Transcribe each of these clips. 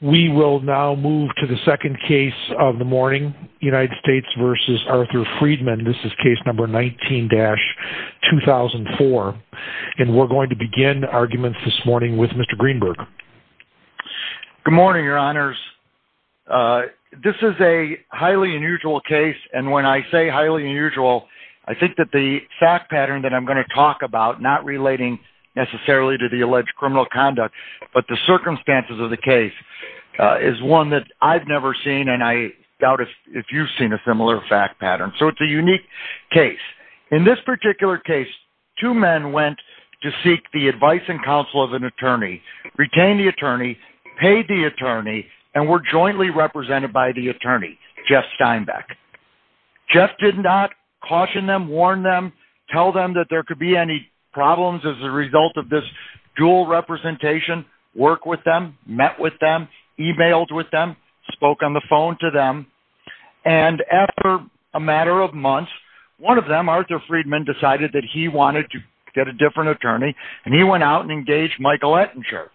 We will now move to the second case of the morning, United States v. Arthur Friedman. This is case number 19-2004. And we're going to begin arguments this morning with Mr. Greenberg. Good morning, your honors. This is a highly unusual case, and when I say highly unusual, I think that the fact pattern that I'm going to talk about, not relating necessarily to the alleged criminal conduct, but the circumstances of the case, is one that I've never seen, and I doubt if you've seen a similar fact pattern. So it's a unique case. In this particular case, two men went to seek the advice and counsel of an attorney, retained the attorney, paid the attorney, and were jointly represented by the attorney, Jeff Steinbeck. Jeff did not caution them, warn them, tell them that there could be any problems as a result of this dual representation, work with them, met with them, emailed with them, spoke on the phone to them. And after a matter of months, one of them, Arthur Friedman, decided that he wanted to get a different attorney, and he went out and engaged Michael Ettinger.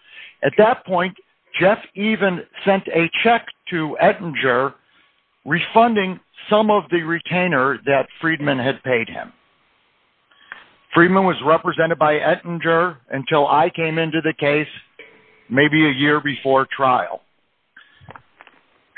At that point, Jeff even sent a check to Ettinger, refunding some of the retainer that Friedman had paid him. Friedman was represented by Ettinger until I came into the case, maybe a year before trial.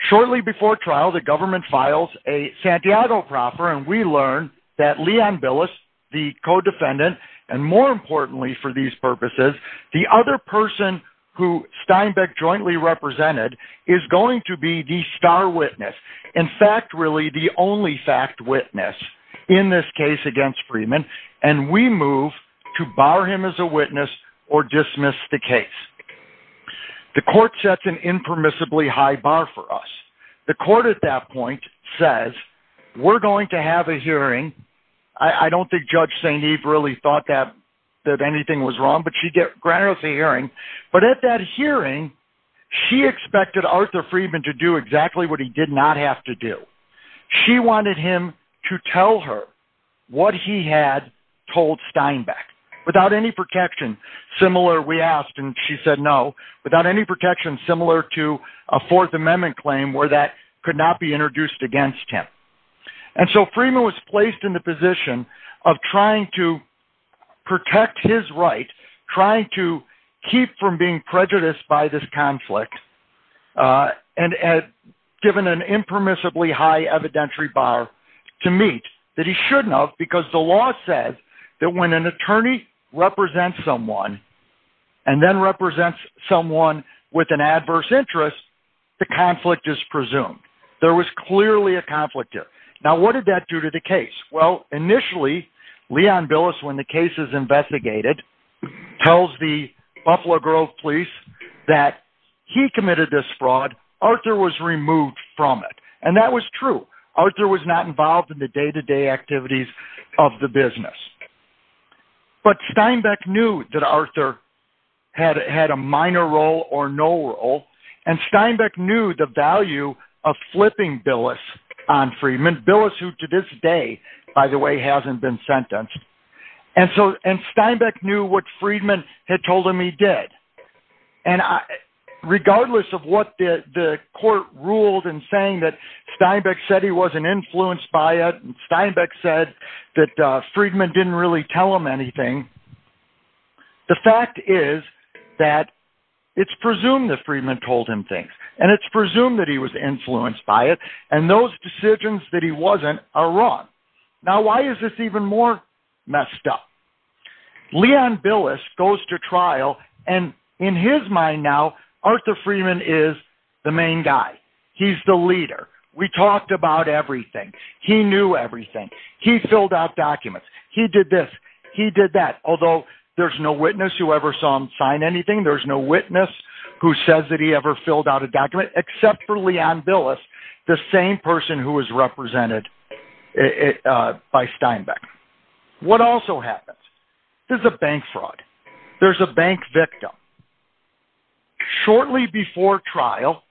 Shortly before trial, the government files a Santiago proffer, and we learn that Leon Billis, the co-defendant, and more importantly for these purposes, the other person who Steinbeck jointly represented is going to be the star witness, in fact, really the only fact witness in this case against Friedman, and we move to bar him as a witness or dismiss the case. The court sets an impermissibly high bar for us. The court at that point says, we're going to have a hearing. I don't think Judge St. Eve really thought that anything was wrong, but she granted us a hearing. But at that hearing, she expected Arthur Friedman to do exactly what he did not have to do. She wanted him to tell her what he had told Steinbeck, without any protection similar, we asked, and she said no, without any protection similar to a Fourth Amendment claim where that could not be introduced against him. And so Friedman was placed in the position of trying to protect his right, trying to keep from being prejudiced by this conflict, and given an impermissibly high evidentiary bar to meet that he shouldn't have, because the law says that when an attorney represents someone and then represents someone with an adverse interest, the conflict is presumed. There was clearly a conflict there. Now, what did that do to the case? Well, initially, Leon Billis, when the case is investigated, tells the Buffalo Grove police that he committed this fraud. Arthur was removed from it, and that was true. Arthur was not involved in the day-to-day activities of the business. But Steinbeck knew that Arthur had a minor role or no role, and Steinbeck knew the value of flipping Billis on Friedman. Billis, who to this day, by the way, hasn't been sentenced. And Steinbeck knew what Friedman had told him he did. And regardless of what the court ruled in saying that Steinbeck said he wasn't influenced by it, and Steinbeck said that Friedman didn't really tell him anything, the fact is that it's presumed that Friedman told him things, and it's presumed that he was influenced by it, and those decisions that he wasn't are wrong. Now, why is this even more messed up? Leon Billis goes to trial, and in his mind now, Arthur Friedman is the main guy. He's the leader. We talked about everything. He knew everything. He filled out documents. He did this. He did that. Although there's no witness who ever saw him sign anything. There's no witness who says that he ever filled out a document, except for Leon Billis, the same person who was represented by Steinbeck. What also happens? There's a bank fraud. There's a bank victim. Shortly before trial,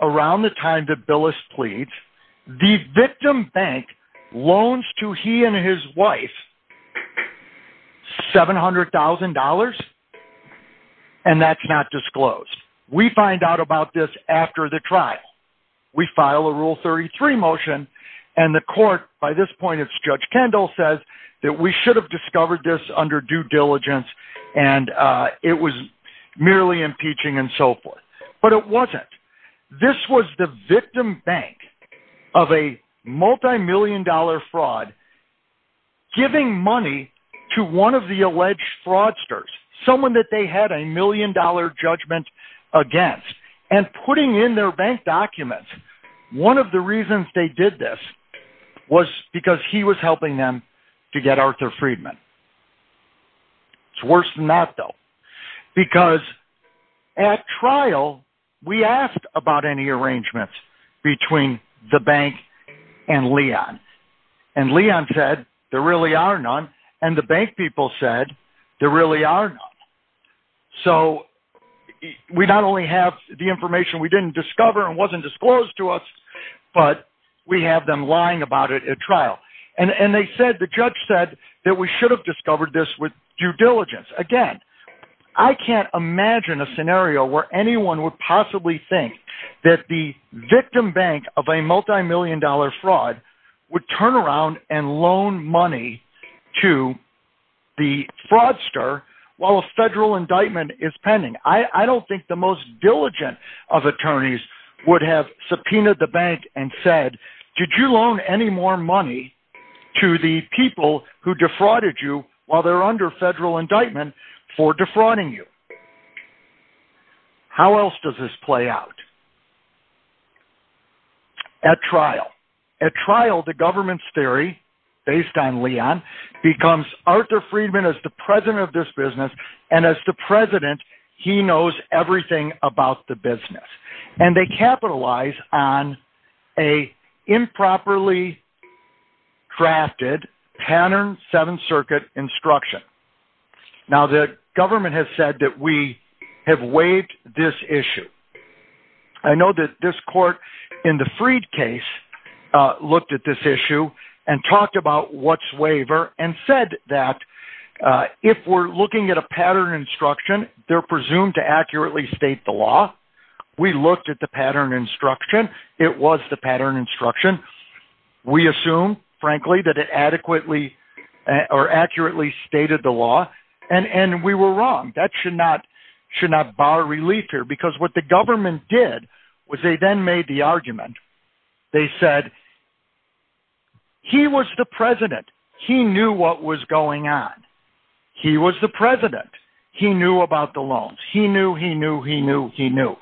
around the time that Billis pleads, the victim bank loans to he and his wife $700,000, and that's not disclosed. We find out about this after the trial. We file a Rule 33 motion, and the court, by this point it's Judge Kendall, says that we should have discovered this under due diligence, and it was merely impeaching and so forth. But it wasn't. This was the victim bank of a multimillion dollar fraud, giving money to one of the alleged fraudsters, someone that they had a million dollar judgment against, and putting in their bank documents. One of the reasons they did this was because he was helping them to get Arthur Friedman. It's worse than that, though, because at trial, we asked about any arrangements between the bank and Leon, and Leon said, there really are none, and the bank people said, there really are none. So we not only have the information we didn't discover and wasn't disclosed to us, but we have them lying about it at trial. And they said, the judge said, that we should have discovered this with due diligence. Again, I can't imagine a scenario where anyone would possibly think that the victim bank of a multimillion dollar fraud would turn around and loan money to the fraudster while a federal indictment is pending. I don't think the most diligent of attorneys would have subpoenaed the bank and said, did you loan any more money to the people who defrauded you while they're under federal indictment for defrauding you? How else does this play out at trial? At trial, the government's theory, based on Leon, becomes Arthur Friedman is the president of this business, and as the president, he knows everything about the business. And they capitalize on an improperly drafted Pattern 7th Circuit instruction. Now, the government has said that we have waived this issue. I know that this court in the Freed case looked at this issue and talked about what's waiver and said that if we're looking at a pattern instruction, they're presumed to accurately state the law. We looked at the pattern instruction. It was the pattern instruction. We assume, frankly, that it adequately or accurately stated the law, and we were wrong. That should not bar relief here, because what the government did was they then made the argument. They said he was the president. He knew what was going on. He was the president. He knew about the loans. He knew, he knew, he knew, he knew.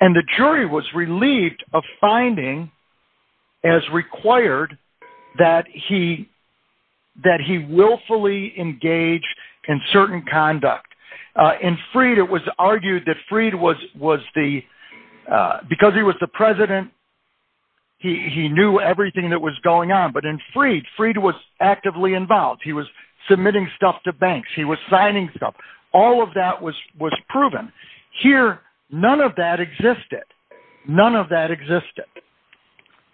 And the jury was relieved of finding, as required, that he willfully engaged in certain conduct. In Freed, it was argued that Freed was the, because he was the president, he knew everything that was going on. But in Freed, Freed was actively involved. He was submitting stuff to banks. He was signing stuff. All of that was proven. Here, none of that existed. None of that existed.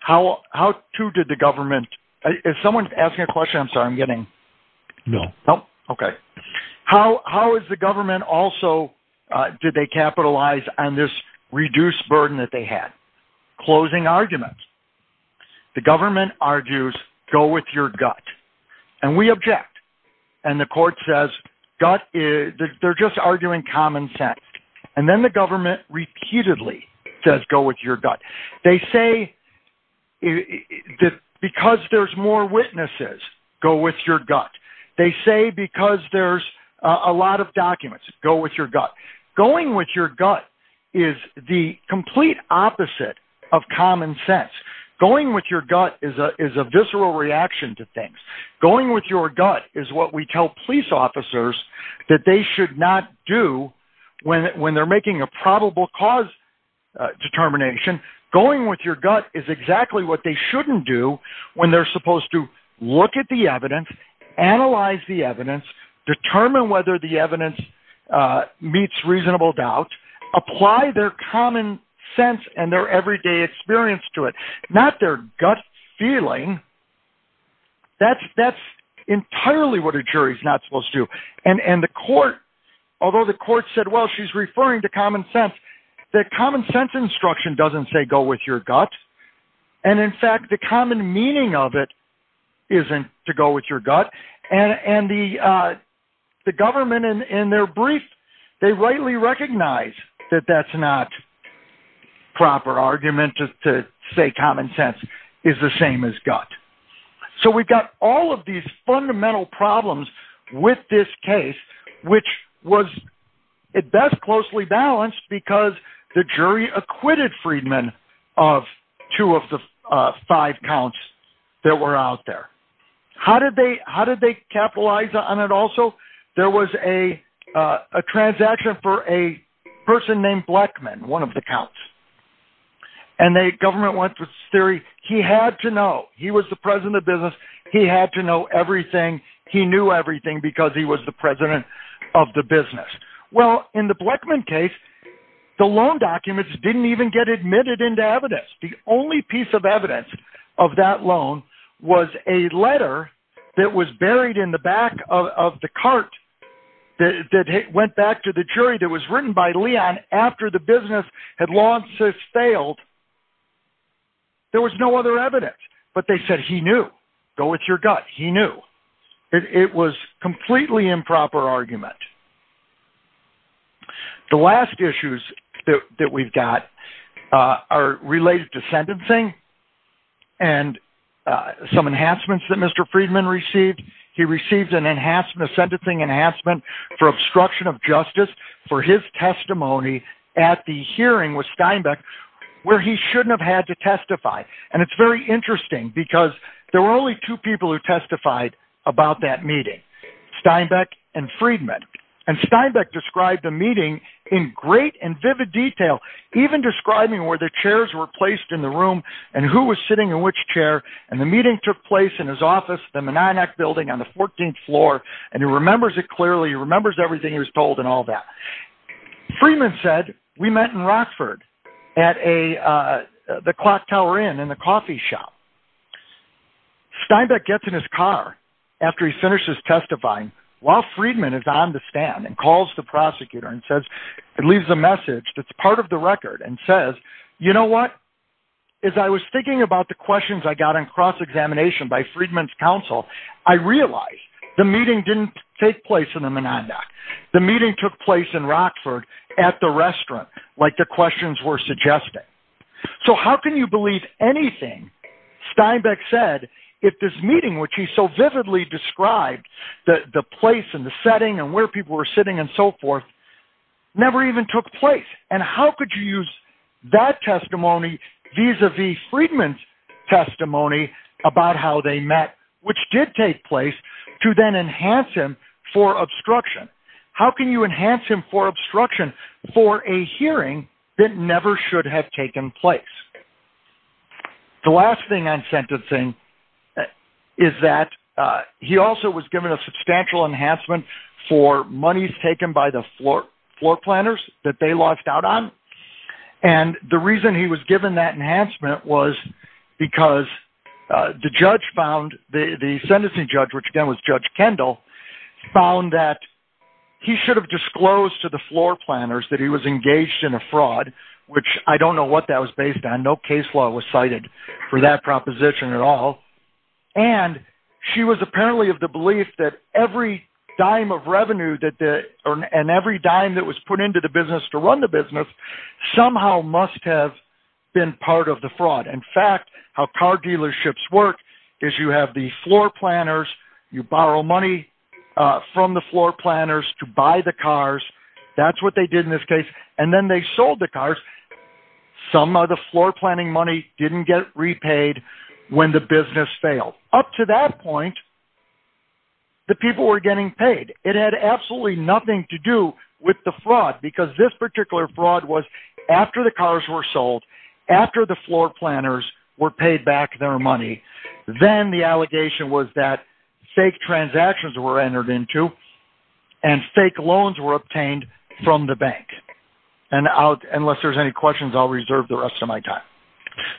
How to did the government, if someone's asking a question, I'm sorry, I'm getting. No. Okay. How is the government also, did they capitalize on this reduced burden that they had? Closing arguments. The government argues, go with your gut. And we object. And the court says, gut, they're just arguing common sense. And then the government repeatedly says, go with your gut. They say that because there's more witnesses, go with your gut. They say because there's a lot of documents, go with your gut. Going with your gut is the complete opposite of common sense. Going with your gut is a visceral reaction to things. Going with your gut is what we tell police officers that they should not do when they're making a probable cause determination. Going with your gut is exactly what they shouldn't do when they're supposed to look at the evidence, analyze the evidence, determine whether the evidence meets reasonable doubt, apply their common sense and their everyday experience to it. Not their gut feeling. That's entirely what a jury's not supposed to do. And the court, although the court said, well, she's referring to common sense, that common sense instruction doesn't say go with your gut. And in fact, the common meaning of it isn't to go with your gut. And the government in their brief, they rightly recognize that that's not proper argument to say common sense is the same as gut. So we've got all of these fundamental problems with this case, which was at best closely balanced because the jury acquitted Friedman of two of the five counts that were out there. How did they how did they capitalize on it? Also, there was a transaction for a person named Blackman, one of the counts. And the government went through this theory. He had to know he was the president of business. He had to know everything. He knew everything because he was the president of the business. Well, in the Blackman case, the loan documents didn't even get admitted into evidence. The only piece of evidence of that loan was a letter that was buried in the back of the cart that went back to the jury. There was no other evidence, but they said he knew go with your gut. He knew it was completely improper argument. The last issues that we've got are related to sentencing and some enhancements that Mr. Friedman received. He received an enhancement, a sentencing enhancement for obstruction of justice for his testimony at the hearing with Steinbeck where he shouldn't have had to testify. And it's very interesting because there were only two people who testified about that meeting, Steinbeck and Friedman. And Steinbeck described the meeting in great and vivid detail, even describing where the chairs were placed in the room and who was sitting in which chair. And the meeting took place in his office, the Meninac building on the 14th floor. And he remembers it clearly. He remembers everything he was told and all that. Friedman said, we met in Rockford at the Clocktower Inn in the coffee shop. Steinbeck gets in his car after he finishes testifying while Friedman is on the stand and calls the prosecutor and says, he leaves a message that's part of the record and says, you know what? As I was thinking about the questions I got in cross-examination by Friedman's counsel, I realized the meeting didn't take place in the Meninac. The meeting took place in Rockford at the restaurant, like the questions were suggesting. So how can you believe anything Steinbeck said if this meeting, which he so vividly described, the place and the setting and where people were sitting and so forth, never even took place? And how could you use that testimony vis-a-vis Friedman's testimony about how they met, which did take place, to then enhance him for obstruction? How can you enhance him for obstruction for a hearing that never should have taken place? The last thing on sentencing is that he also was given a substantial enhancement for monies taken by the floor planners that they lodged out on. And the reason he was given that enhancement was because the judge found, the sentencing judge, which again was Judge Kendall, found that he should have disclosed to the floor planners that he was engaged in a fraud, which I don't know what that was based on. No case law was cited for that proposition at all. And she was apparently of the belief that every dime of revenue and every dime that was put into the business to run the business somehow must have been part of the fraud. In fact, how car dealerships work is you have the floor planners, you borrow money from the floor planners to buy the cars. That's what they did in this case. And then they sold the cars. Some of the floor planning money didn't get repaid when the business failed. Up to that point, the people were getting paid. It had absolutely nothing to do with the fraud because this particular fraud was after the cars were sold, after the floor planners were paid back their money, then the allegation was that fake transactions were entered into and fake loans were obtained from the bank. And unless there's any questions, I'll reserve the rest of my time.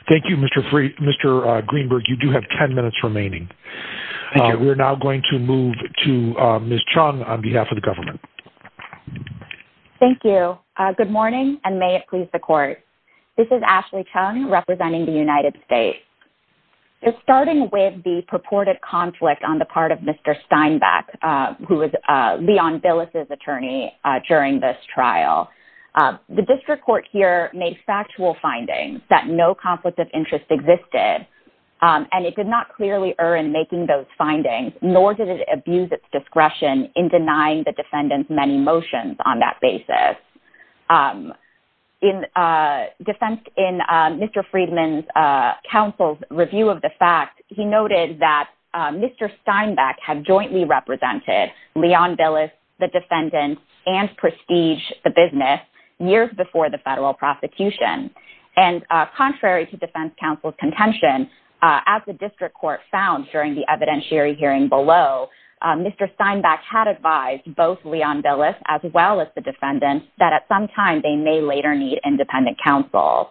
Thank you, Mr. Greenberg. You do have ten minutes remaining. Thank you. We're now going to move to Ms. Chung on behalf of the government. Thank you. Good morning, and may it please the court. This is Ashley Chung representing the United States. Starting with the purported conflict on the part of Mr. Steinbeck, who was Leon Billis's attorney during this trial, the district court here made factual findings that no conflict of interest existed, and it did not clearly err in making those findings, nor did it abuse its discretion in denying the defendants many motions on that basis. In defense in Mr. Friedman's counsel's review of the fact, he noted that Mr. Steinbeck had jointly represented Leon Billis, the defendant, and Prestige, the business, years before the federal prosecution. And contrary to defense counsel's contention, as the district court found during the evidentiary hearing below, Mr. Steinbeck had advised both Leon Billis as well as the defendant that at some time they may later need independent counsel.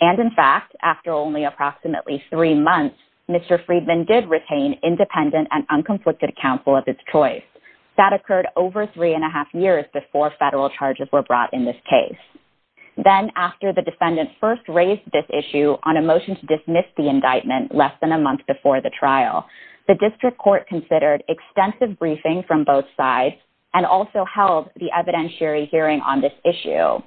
And in fact, after only approximately three months, Mr. Friedman did retain independent and unconflicted counsel of his choice. That occurred over three and a half years before federal charges were brought in this case. Then after the defendant first raised this issue on a motion to dismiss the indictment less than a month before the trial, the district court considered extensive briefing from both sides and also held the evidentiary hearing on this issue.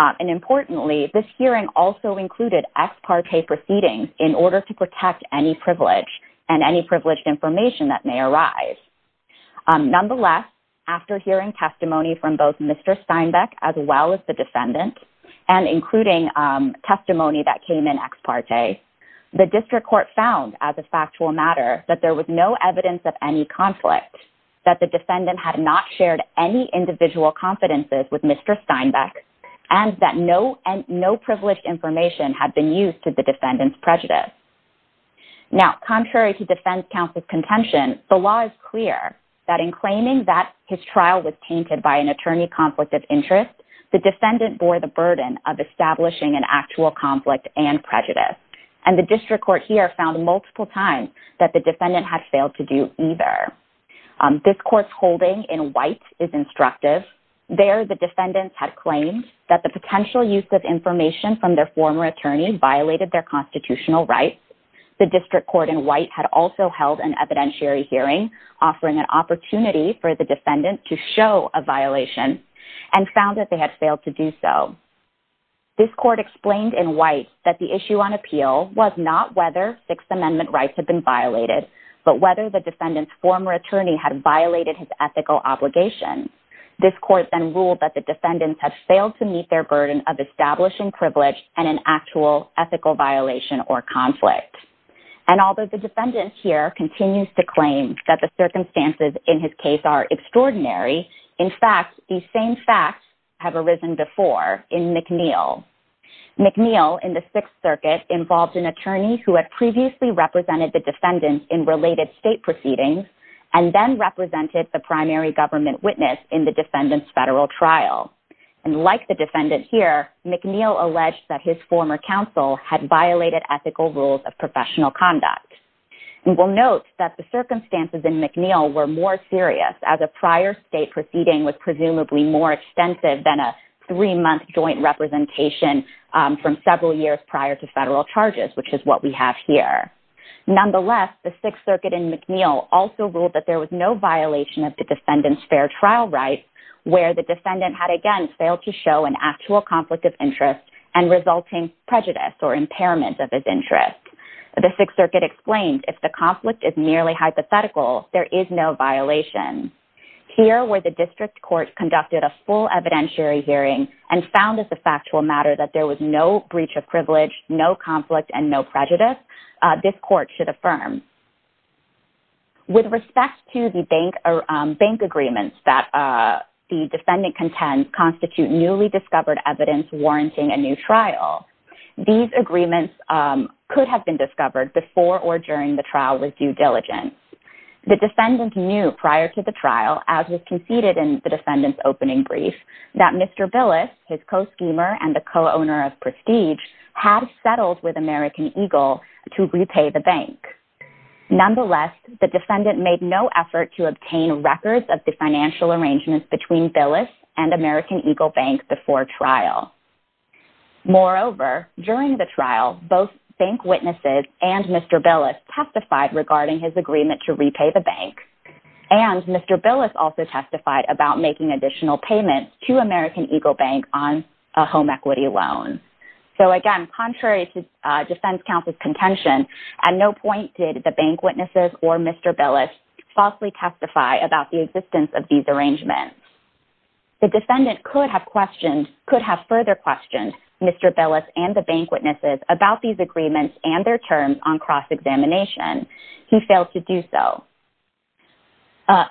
And importantly, this hearing also included ex parte proceedings in order to protect any privilege and any privileged information that may arise. Nonetheless, after hearing testimony from both Mr. Steinbeck as well as the defendant, and including testimony that came in ex parte, the district court found as a factual matter that there was no evidence of any conflict, that the defendant had not shared any individual confidences with Mr. Steinbeck, and that no privileged information had been used to the defendant's prejudice. Now, contrary to defense counsel's contention, the law is clear that in claiming that his trial was tainted by an attorney conflict of interest, the defendant bore the burden of establishing an actual conflict and prejudice. And the district court here found multiple times that the defendant had failed to do either. This court's holding in white is instructive. There, the defendants had claimed that the potential use of information from their former attorney violated their constitutional rights. The district court in white had also held an evidentiary hearing, offering an opportunity for the defendant to show a violation and found that they had failed to do so. This court explained in white that the issue on appeal was not whether Sixth Amendment rights had been violated, but whether the defendant's former attorney had violated his ethical obligations. This court then ruled that the defendants had failed to meet their burden of establishing privilege and an actual ethical violation or conflict. And although the defendant here continues to claim that the circumstances in his case are extraordinary, in fact, these same facts have arisen before in McNeill. McNeill in the Sixth Circuit involved an attorney who had previously represented the defendant in related state proceedings and then represented the primary government witness in the defendant's federal trial. And like the defendant here, McNeill alleged that his former counsel had violated ethical rules of professional conduct. We'll note that the circumstances in McNeill were more serious as a prior state proceeding was presumably more extensive than a three-month joint representation from several years prior to federal charges, which is what we have here. Nonetheless, the Sixth Circuit in McNeill also ruled that there was no violation of the defendant's fair trial rights where the defendant had again failed to show an actual conflict of interest and resulting prejudice or impairment of his interest. The Sixth Circuit explained if the conflict is merely hypothetical, there is no violation. Here, where the district court conducted a full evidentiary hearing and found as a factual matter that there was no breach of privilege, no conflict, and no prejudice, this court should affirm. With respect to the bank agreements that the defendant contends constitute newly discovered evidence warranting a new trial, these agreements could have been discovered before or during the trial with due diligence. The defendant knew prior to the trial, as was conceded in the defendant's opening brief, that Mr. Billis, his co-schemer and the co-owner of Prestige, had settled with American Eagle to repay the bank. Nonetheless, the defendant made no effort to obtain records of the financial arrangements between Billis and American Eagle Bank before trial. Moreover, during the trial, both bank witnesses and Mr. Billis testified regarding his agreement to repay the bank. And Mr. Billis also testified about making additional payments to American Eagle Bank on a home equity loan. So again, contrary to defense counsel's contention, at no point did the bank witnesses or Mr. Billis falsely testify about the existence of these arrangements. The defendant could have further questioned Mr. Billis and the bank witnesses about these agreements and their terms on cross-examination. He failed to do so.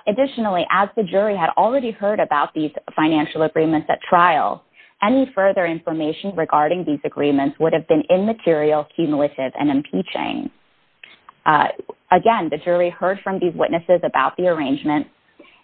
Additionally, as the jury had already heard about these financial agreements at trial, any further information regarding these agreements would have been immaterial, cumulative, and impeaching. Again, the jury heard from these witnesses about the arrangements.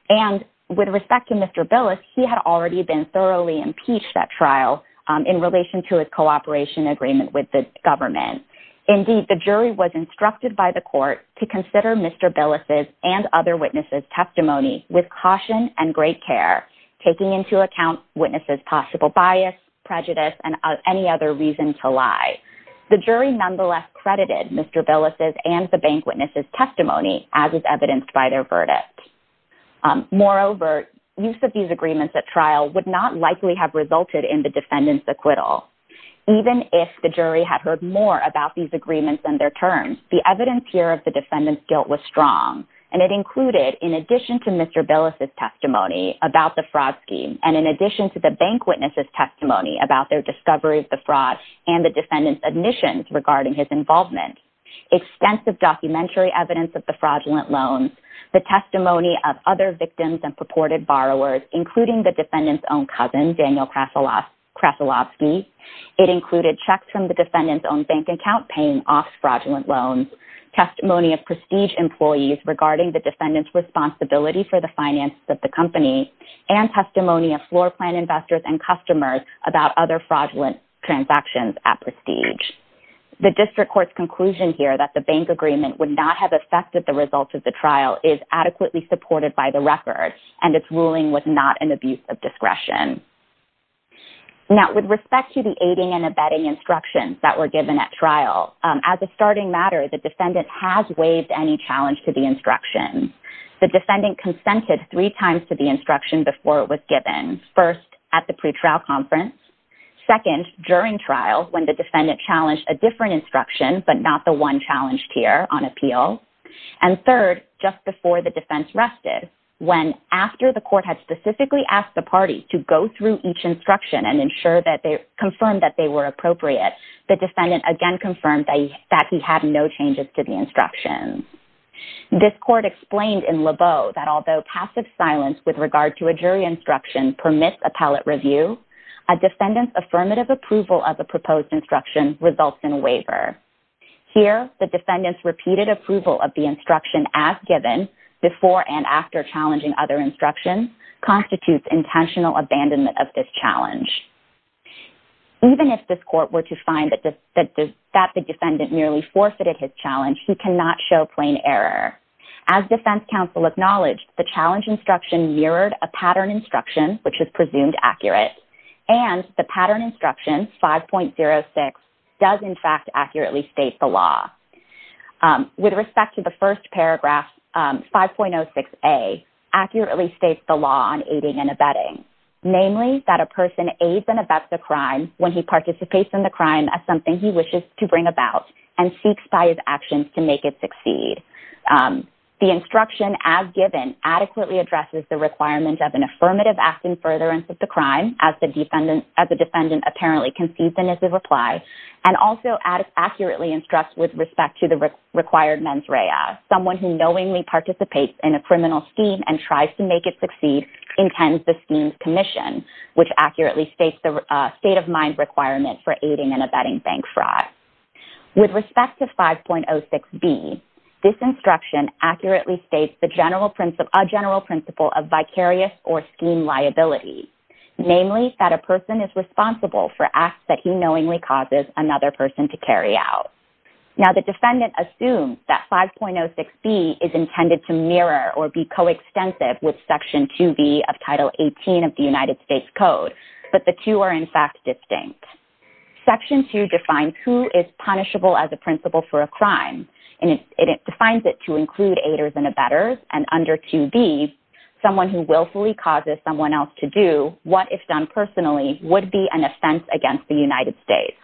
And with respect to Mr. Billis, he had already been thoroughly impeached at trial in relation to his cooperation agreement with the government. Indeed, the jury was instructed by the court to consider Mr. Billis' and other witnesses' testimony with caution and great care, taking into account witnesses' possible bias, prejudice, and any other reason to lie. The jury nonetheless credited Mr. Billis' and the bank witnesses' testimony as is evidenced by their verdict. Moreover, use of these agreements at trial would not likely have resulted in the defendant's acquittal. Even if the jury had heard more about these agreements and their terms, the evidence here of the defendant's guilt was strong, and it included, in addition to Mr. Billis' testimony about the fraud scheme, and in addition to the bank witnesses' testimony about their discovery of the fraud and the defendant's admissions regarding his involvement, extensive documentary evidence of the fraudulent loans, the testimony of other victims and purported borrowers, including the defendant's own cousin, Daniel Krasilovsky. It included checks from the defendant's own bank account paying off fraudulent loans, testimony of prestige employees regarding the defendant's responsibility for the finances of the company, and testimony of floor plan investors and customers about other fraudulent transactions at prestige. The district court's conclusion here that the bank agreement would not have affected the results of the trial is adequately supported by the record, and its ruling was not an abuse of discretion. Now, with respect to the aiding and abetting instructions that were given at trial, as a starting matter, the defendant has waived any challenge to the instructions. The defendant consented three times to the instruction before it was given. First, at the pretrial conference. Second, during trial, when the defendant challenged a different instruction, but not the one challenged here on appeal. And third, just before the defense rested, when after the court had specifically asked the party to go through each instruction and ensure that they confirmed that they were appropriate, the defendant again confirmed that he had no changes to the instructions. This court explained in Lebeau that although passive silence with regard to a jury instruction permits appellate review, a defendant's affirmative approval of the proposed instruction results in a waiver. Here, the defendant's repeated approval of the instruction as given, before and after challenging other instructions, constitutes intentional abandonment of this challenge. Even if this court were to find that the defendant merely forfeited his challenge, he cannot show plain error. As defense counsel acknowledged, the challenge instruction mirrored a pattern instruction, which is presumed accurate. And the pattern instruction, 5.06, does in fact accurately state the law. With respect to the first paragraph, 5.06a, accurately states the law on aiding and abetting. Namely, that a person aids and abets a crime when he participates in the crime as something he wishes to bring about and seeks by his actions to make it succeed. The instruction as given adequately addresses the requirement of an affirmative act in furtherance of the crime, as the defendant apparently concedes in his reply, and also accurately instructs with respect to the required mens rea. Someone who knowingly participates in a criminal scheme and tries to make it succeed intends the scheme's commission, which accurately states the state of mind requirement for aiding and abetting bank fraud. With respect to 5.06b, this instruction accurately states a general principle of vicarious or scheme liability. Namely, that a person is responsible for acts that he knowingly causes another person to carry out. Now, the defendant assumes that 5.06b is intended to mirror or be coextensive with Section 2b of Title 18 of the United States Code, but the two are in fact distinct. Section 2 defines who is punishable as a principle for a crime, and it defines it to include aiders and abettors, and under 2b, someone who willfully causes someone else to do what, if done personally, would be an offense against the United States.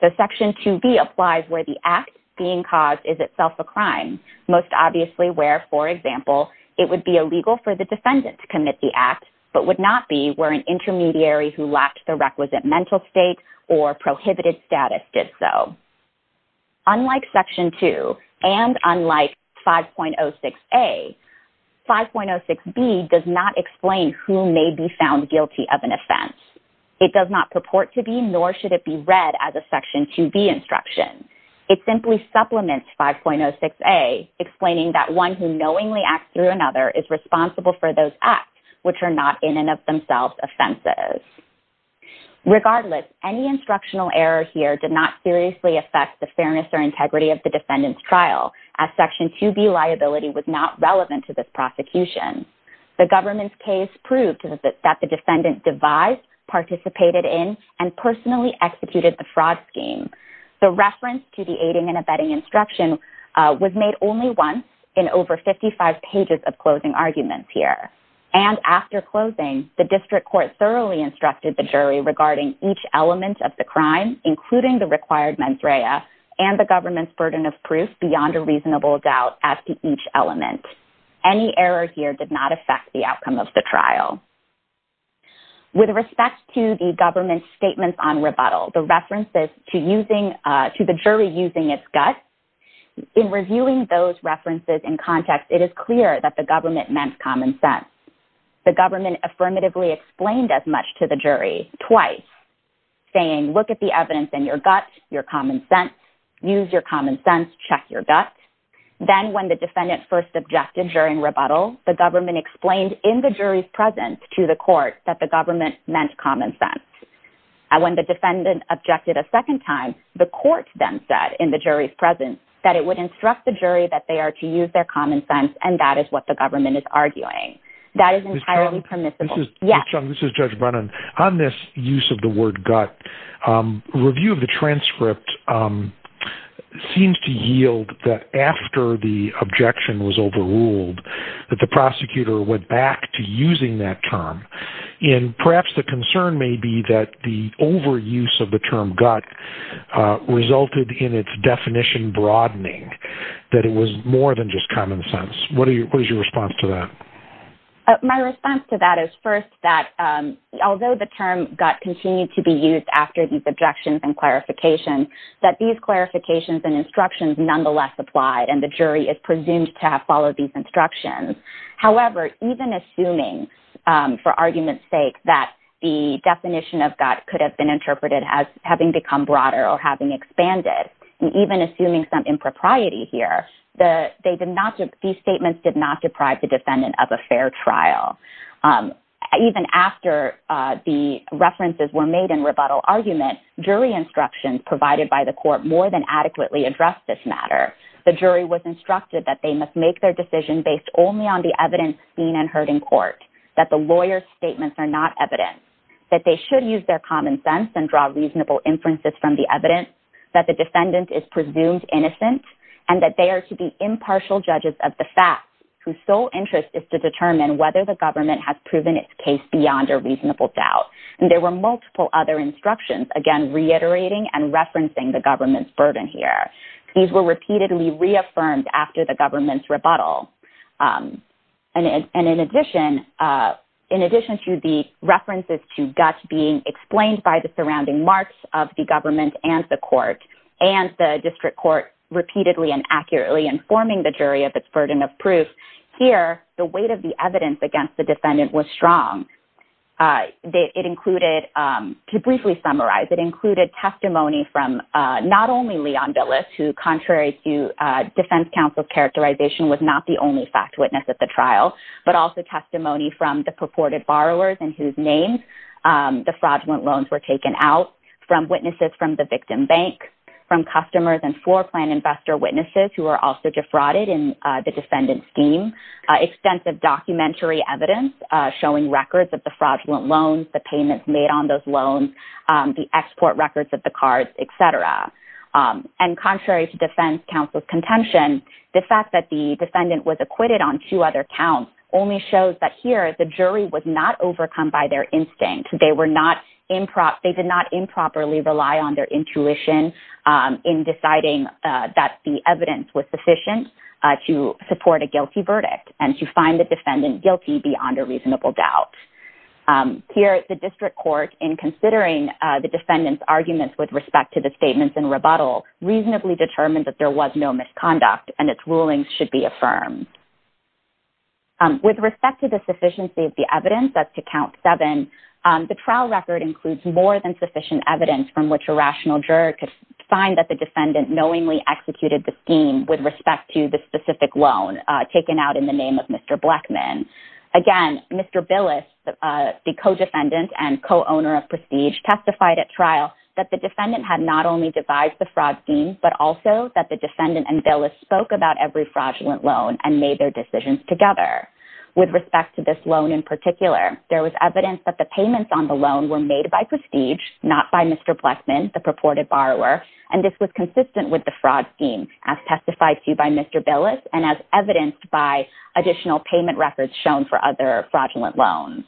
So Section 2b applies where the act being caused is itself a crime, most obviously where, for example, it would be illegal for the defendant to commit the act, but would not be where an intermediary who lacked the requisite mental state or prohibited status did so. Unlike Section 2, and unlike 5.06a, 5.06b does not explain who may be found guilty of an offense. It does not purport to be, nor should it be read as a Section 2b instruction. It simply supplements 5.06a, explaining that one who knowingly acts through another is responsible for those acts, which are not in and of themselves offenses. Regardless, any instructional error here did not seriously affect the fairness or integrity of the defendant's trial, as Section 2b liability was not relevant to this prosecution. The government's case proved that the defendant devised, participated in, and personally executed the fraud scheme. The reference to the aiding and abetting instruction was made only once in over 55 pages of closing arguments here. And after closing, the district court thoroughly instructed the jury regarding each element of the crime, including the required mens rea, and the government's burden of proof beyond a reasonable doubt as to each element. Any error here did not affect the outcome of the trial. With respect to the government's statements on rebuttal, the references to the jury using its gut, in reviewing those references in context, it is clear that the government meant common sense. The government affirmatively explained as much to the jury twice, saying, look at the evidence in your gut, your common sense, use your common sense, check your gut. Then when the defendant first objected during rebuttal, the government explained in the jury's presence to the court that the government meant common sense. When the defendant objected a second time, the court then said in the jury's presence that it would instruct the jury that they are to use their common sense, and that is what the government is arguing. That is entirely permissible. Judge Brennan, on this use of the word gut, a review of the transcript seems to yield that after the objection was overruled, that the prosecutor went back to using that term, and perhaps the concern may be that the overuse of the term gut resulted in its definition broadening, that it was more than just common sense. What is your response to that? My response to that is first that although the term gut continued to be used after these objections and clarifications, that these clarifications and instructions nonetheless applied, and the jury is presumed to have followed these instructions. However, even assuming, for argument's sake, that the definition of gut could have been interpreted as having become broader or having expanded, and even assuming some impropriety here, these statements did not deprive the defendant of a fair trial. Even after the references were made in rebuttal argument, jury instructions provided by the court more than adequately addressed this matter. The jury was instructed that they must make their decision based only on the evidence seen and heard in court, that the lawyer's statements are not evidence, that they should use their common sense and draw reasonable inferences from the evidence, that the defendant is presumed innocent, and that they are to be impartial judges of the facts, whose sole interest is to determine whether the government has proven its case beyond a reasonable doubt. And there were multiple other instructions, again, reiterating and referencing the government's burden here. These were repeatedly reaffirmed after the government's rebuttal. And in addition to the references to guts being explained by the surrounding marks of the government and the court, and the district court repeatedly and accurately informing the jury of its burden of proof, here, the weight of the evidence against the defendant was strong. It included, to briefly summarize, it included testimony from not only Leon Billis, who, contrary to defense counsel's characterization, was not the only fact witness at the trial, but also testimony from the purported borrowers and whose names the fraudulent loans were taken out, from witnesses from the victim bank, from customers and floor plan investor witnesses, who were also defrauded in the defendant's scheme, extensive documentary evidence showing records of the fraudulent loans, the payments made on those loans, the export records of the cards, et cetera. And contrary to defense counsel's contention, the fact that the defendant was acquitted on two other counts only shows that here, the jury was not overcome by their instinct. They did not improperly rely on their intuition in deciding that the evidence was sufficient to support a guilty verdict and to find the defendant guilty beyond a reasonable doubt. Here, the district court, in considering the defendant's arguments with respect to the statements in rebuttal, reasonably determined that there was no misconduct and its rulings should be affirmed. With respect to the sufficiency of the evidence, that's to count seven, the trial record includes more than sufficient evidence from which a rational juror could find that the defendant knowingly executed the scheme with respect to the specific loan taken out in the name of Mr. Blackman. Again, Mr. Billis, the co-defendant and co-owner of Prestige, testified at trial that the defendant had not only devised the fraud scheme, but also that the defendant and Billis spoke about every fraudulent loan and made their decisions together. With respect to this loan in particular, there was evidence that the payments on the loan were made by Prestige, not by Mr. Blackman, the purported borrower, and this was consistent with the fraud scheme as testified to by Mr. Billis and as evidenced by additional payment records shown for other fraudulent loans.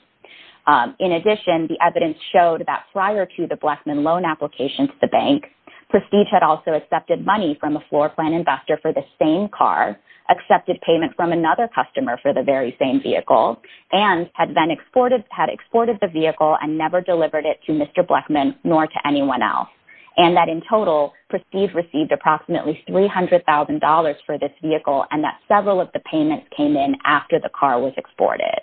In addition, the evidence showed that prior to the Blackman loan application to the bank, Prestige had also accepted money from a floor plan investor for the same car, accepted payment from another customer for the very same vehicle, and had then exported the vehicle and never delivered it to Mr. Blackman nor to anyone else, and that in total, Prestige received approximately $300,000 for this vehicle and that several of the payments came in after the car was exported.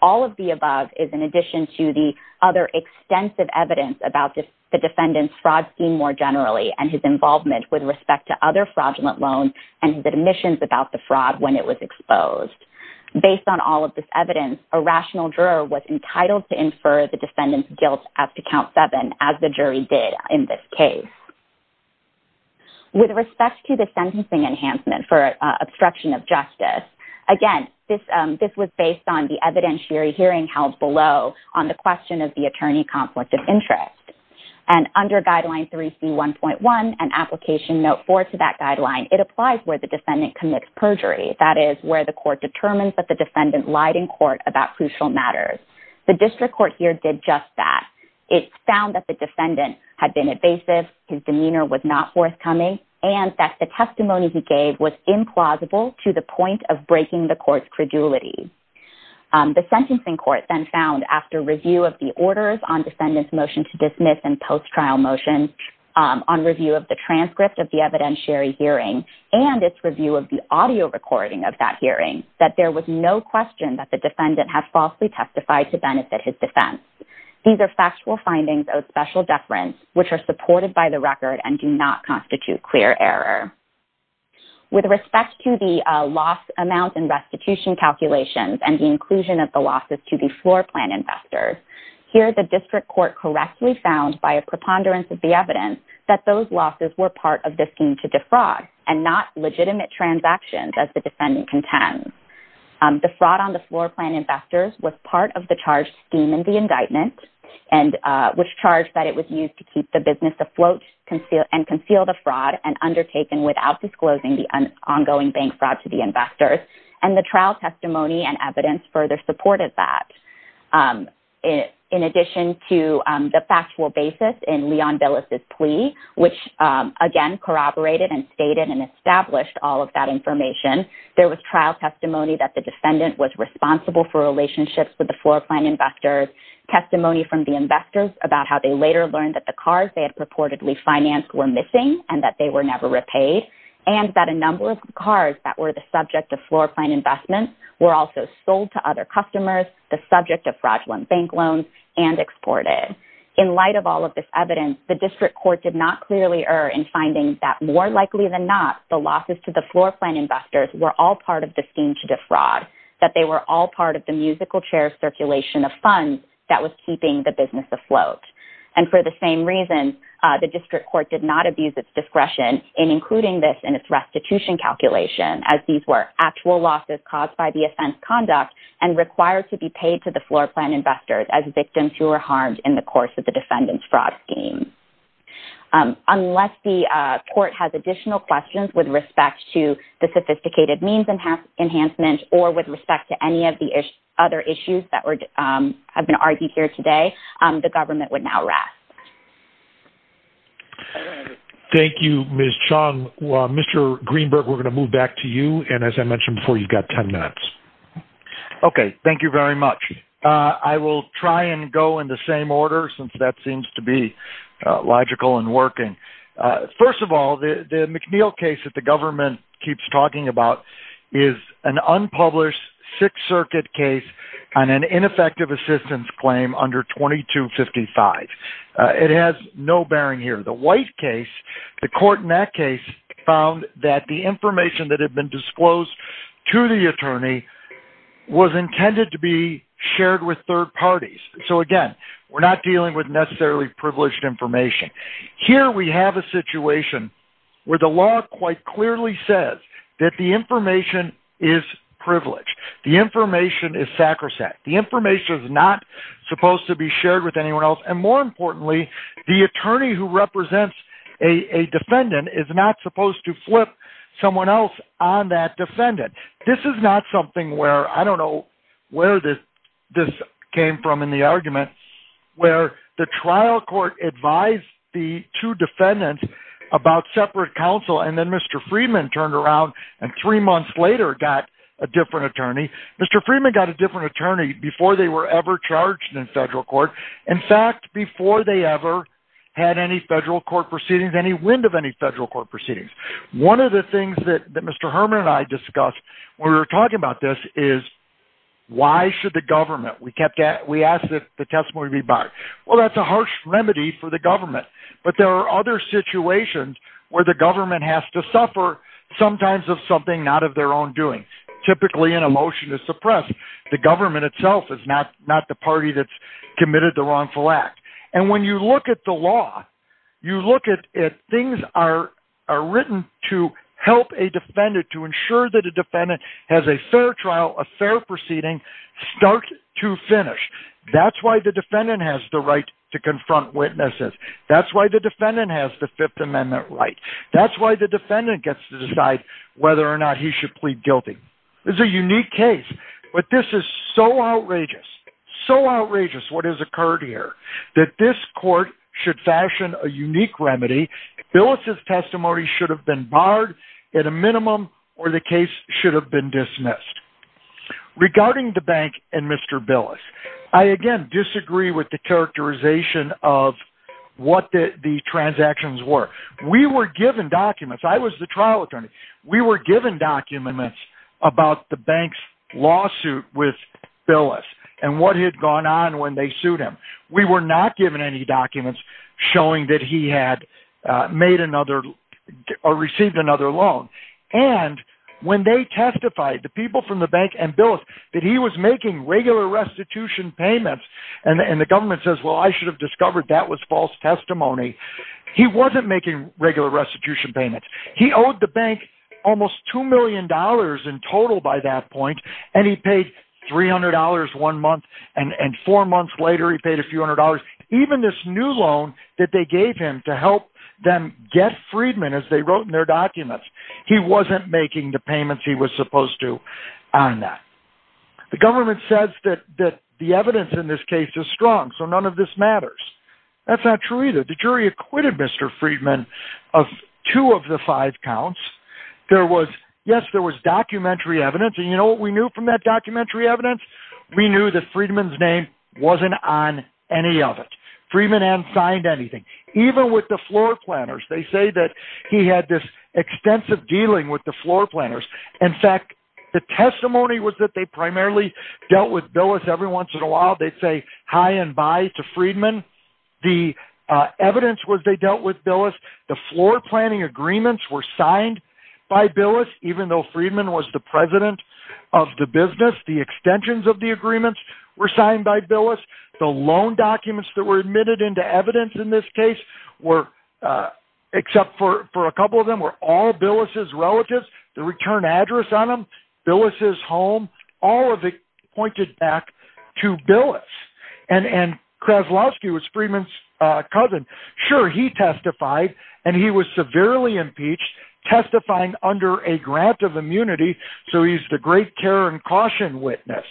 All of the above is in addition to the other extensive evidence about the defendant's fraud scheme more generally and his involvement with respect to other fraudulent loans and his admissions about the fraud when it was exposed. Based on all of this evidence, a rational juror was entitled to infer the defendant's guilt after count seven, as the jury did in this case. With respect to the sentencing enhancement for obstruction of justice, again, this was based on the evidentiary hearing held below on the question of the attorney conflict of interest, and under Guideline 3C1.1 and Application Note 4 to that guideline, it applies where the defendant commits perjury, that is where the court determines that the defendant lied in court about crucial matters. The district court here did just that. It found that the defendant had been evasive, his demeanor was not forthcoming, and that the testimony he gave was implausible to the point of breaking the court's credulity. The sentencing court then found after review of the orders on defendant's motion to dismiss and post-trial motion on review of the transcript of the evidentiary hearing and its review of the audio recording of that hearing, that there was no question that the defendant had falsely testified to benefit his defense. These are factual findings of special deference which are supported by the record and do not constitute clear error. With respect to the loss amount and restitution calculations and the inclusion of the losses to the floor plan investors, here the district court correctly found by a preponderance of the evidence that those losses were part of the scheme to defraud and not legitimate transactions as the defendant contends. The fraud on the floor plan investors was part of the charged scheme in the indictment which charged that it was used to keep the business afloat and conceal the fraud and undertaken without disclosing the ongoing bank fraud to the investors, and the trial testimony and evidence further supported that. In addition to the factual basis in Leon Billis' plea, which again corroborated and stated and established all of that information, there was trial testimony that the defendant was responsible for relationships with the floor plan investors, testimony from the investors about how they later learned that the cars they had purportedly financed were missing and that they were never repaid, and that a number of cars that were the subject of floor plan investments were also sold to other customers, the subject of fraudulent bank loans, and exported. In light of all of this evidence, the district court did not clearly err in finding that more likely than not, the losses to the floor plan investors were all part of the scheme to defraud, that they were all part of the musical chair circulation of funds that was keeping the business afloat. And for the same reason, the district court did not abuse its discretion in including this in its restitution calculation, as these were actual losses caused by the offense conduct and required to be paid to the floor plan investors as victims who were harmed in the course of the defendant's fraud scheme. Unless the court has additional questions with respect to the sophisticated means enhancement or with respect to any of the other issues that have been argued here today, the government would now rest. Thank you, Ms. Chung. Mr. Greenberg, we're going to move back to you, and as I mentioned before, you've got ten minutes. Okay, thank you very much. I will try and go in the same order since that seems to be logical and working. First of all, the McNeil case that the government keeps talking about is an unpublished Sixth Circuit case on an ineffective assistance claim under 2255. It has no bearing here. The White case, the court in that case found that the information that had been disclosed to the attorney was intended to be shared with third parties. So, again, we're not dealing with necessarily privileged information. Here we have a situation where the law quite clearly says that the information is privileged. The information is sacrosanct. The information is not supposed to be shared with anyone else, and more importantly, the attorney who represents a defendant is not supposed to flip someone else on that defendant. This is not something where, I don't know where this came from in the argument, where the trial court advised the two defendants about separate counsel, and then Mr. Freeman turned around and three months later got a different attorney. Mr. Freeman got a different attorney before they were ever charged in federal court. In fact, before they ever had any federal court proceedings, any wind of any federal court proceedings. One of the things that Mr. Herman and I discussed when we were talking about this is why should the government? We asked that the testimony be barred. Well, that's a harsh remedy for the government, but there are other situations where the government has to suffer sometimes of something not of their own doing. Typically, in a motion to suppress, the government itself is not the party that's committed the wrongful act. And when you look at the law, you look at things are written to help a defendant to ensure that a defendant has a fair trial, a fair proceeding, start to finish. That's why the defendant has the right to confront witnesses. That's why the defendant has the Fifth Amendment right. That's why the defendant gets to decide whether or not he should plead guilty. It's a unique case. But this is so outrageous, so outrageous what has occurred here, that this court should fashion a unique remedy. Billis' testimony should have been barred at a minimum, or the case should have been dismissed. Regarding the bank and Mr. Billis, I again disagree with the characterization of what the transactions were. We were given documents. I was the trial attorney. We were given documents about the bank's lawsuit with Billis and what had gone on when they sued him. We were not given any documents showing that he had made another or received another loan. And when they testified, the people from the bank and Billis, that he was making regular restitution payments, and the government says, well, I should have discovered that was false testimony, he wasn't making regular restitution payments. He owed the bank almost $2 million in total by that point, and he paid $300 one month, and four months later he paid a few hundred dollars. Even this new loan that they gave him to help them get Friedman, as they wrote in their documents, he wasn't making the payments he was supposed to on that. The government says that the evidence in this case is strong, so none of this matters. That's not true either. The jury acquitted Mr. Friedman of two of the five counts. Yes, there was documentary evidence, and you know what we knew from that documentary evidence? We knew that Friedman's name wasn't on any of it. Friedman hadn't signed anything. Even with the floor planners, they say that he had this extensive dealing with the floor planners. In fact, the testimony was that they primarily dealt with Billis every once in a while. They'd say hi and bye to Friedman. The evidence was they dealt with Billis. The floor planning agreements were signed by Billis, even though Friedman was the president of the business. The extensions of the agreements were signed by Billis. The loan documents that were admitted into evidence in this case, except for a couple of them, were all Billis' relatives. The return address on them, Billis' home, all of it pointed back to Billis. Kraslowski was Friedman's cousin. Sure, he testified, and he was severely impeached, testifying under a grant of immunity, so he's the great care and caution witness.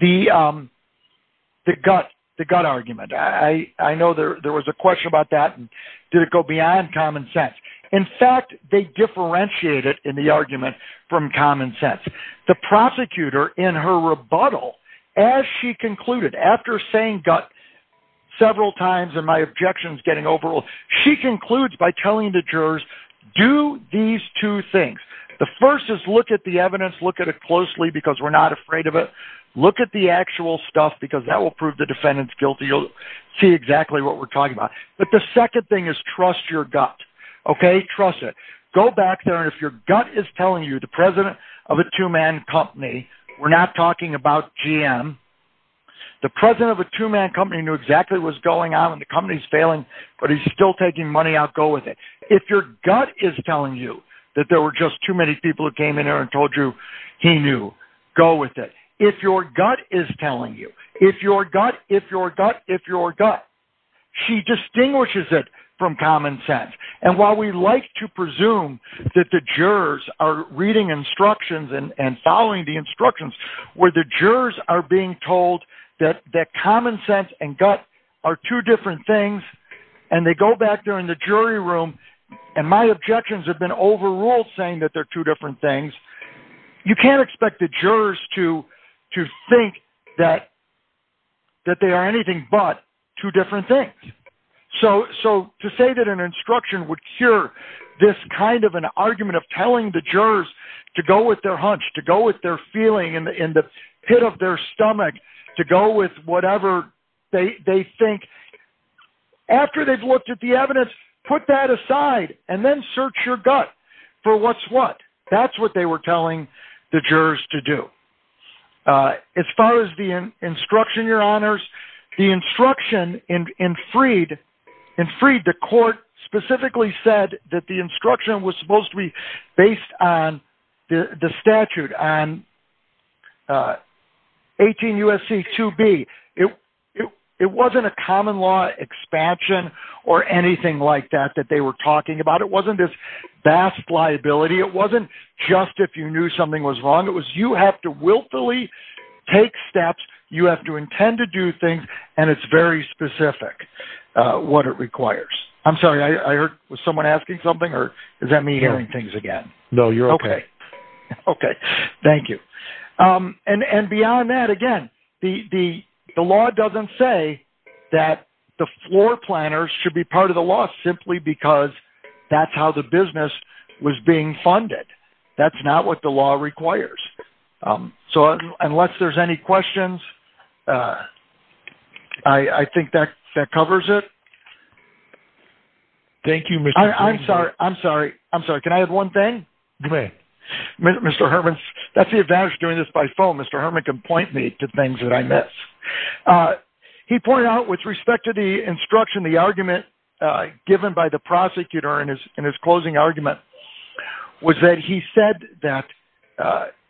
The gut argument. I know there was a question about that. Did it go beyond common sense? In fact, they differentiated in the argument from common sense. The prosecutor, in her rebuttal, as she concluded, after saying gut several times and my objections getting overruled, she concludes by telling the jurors, do these two things. The first is look at the evidence, look at it closely because we're not afraid of it. Look at the actual stuff because that will prove the defendant's guilty. You'll see exactly what we're talking about. But the second thing is trust your gut, okay? Trust it. Go back there, and if your gut is telling you the president of a two-man company, we're not talking about GM, the president of a two-man company knew exactly what was going on, and the company's failing, but he's still taking money out, go with it. If your gut is telling you that there were just too many people who came in there and told you, he knew, go with it. If your gut is telling you, if your gut, if your gut, if your gut, she distinguishes it from common sense. And while we like to presume that the jurors are reading instructions and following the instructions, where the jurors are being told that common sense and gut are two different things, and they go back there in the jury room, and my objections have been overruled saying that they're two different things, you can't expect the jurors to think that they are anything but two different things. So to say that an instruction would cure this kind of an argument of telling the jurors to go with their hunch, to go with their feeling in the pit of their stomach, to go with whatever they think, after they've looked at the evidence, put that aside, and then search your gut for what's what. That's what they were telling the jurors to do. As far as the instruction, your honors, the instruction in Freed, in Freed, the court specifically said that the instruction was supposed to be based on the statute, on 18 U.S.C. 2B. It wasn't a common law expansion or anything like that that they were talking about. It wasn't this vast liability. It wasn't just if you knew something was wrong. It was you have to willfully take steps. You have to intend to do things, and it's very specific what it requires. I'm sorry, was someone asking something, or is that me hearing things again? No, you're okay. Okay, thank you. And beyond that, again, the law doesn't say that the floor planners should be part of the law simply because that's how the business was being funded. That's not what the law requires. So unless there's any questions, I think that covers it. Thank you, Mr. Freeman. I'm sorry. I'm sorry. Can I add one thing? Go ahead. Mr. Herman, that's the advantage of doing this by phone. Mr. Herman can point me to things that I miss. He pointed out with respect to the instruction, the argument given by the prosecutor in his closing argument was that he said that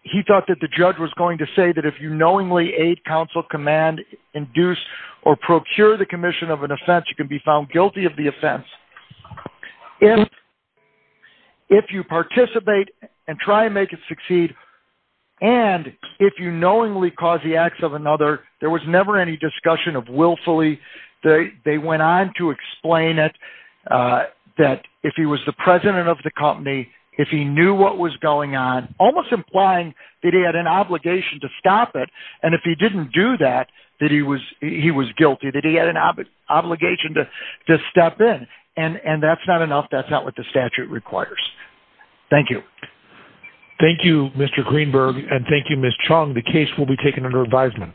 he thought that the judge was going to say that if you knowingly aid, counsel, command, induce, or procure the commission of an offense, you can be found guilty of the offense. If you participate and try and make it succeed, and if you knowingly cause the acts of another, there was never any discussion of willfully. They went on to explain it, that if he was the president of the company, if he knew what was going on, almost implying that he had an obligation to stop it, and if he didn't do that, that he was guilty, that he had an obligation to step in. And that's not enough. That's not what the statute requires. Thank you. Thank you, Mr. Greenberg, and thank you, Ms. Chung. The case will be taken under advisement.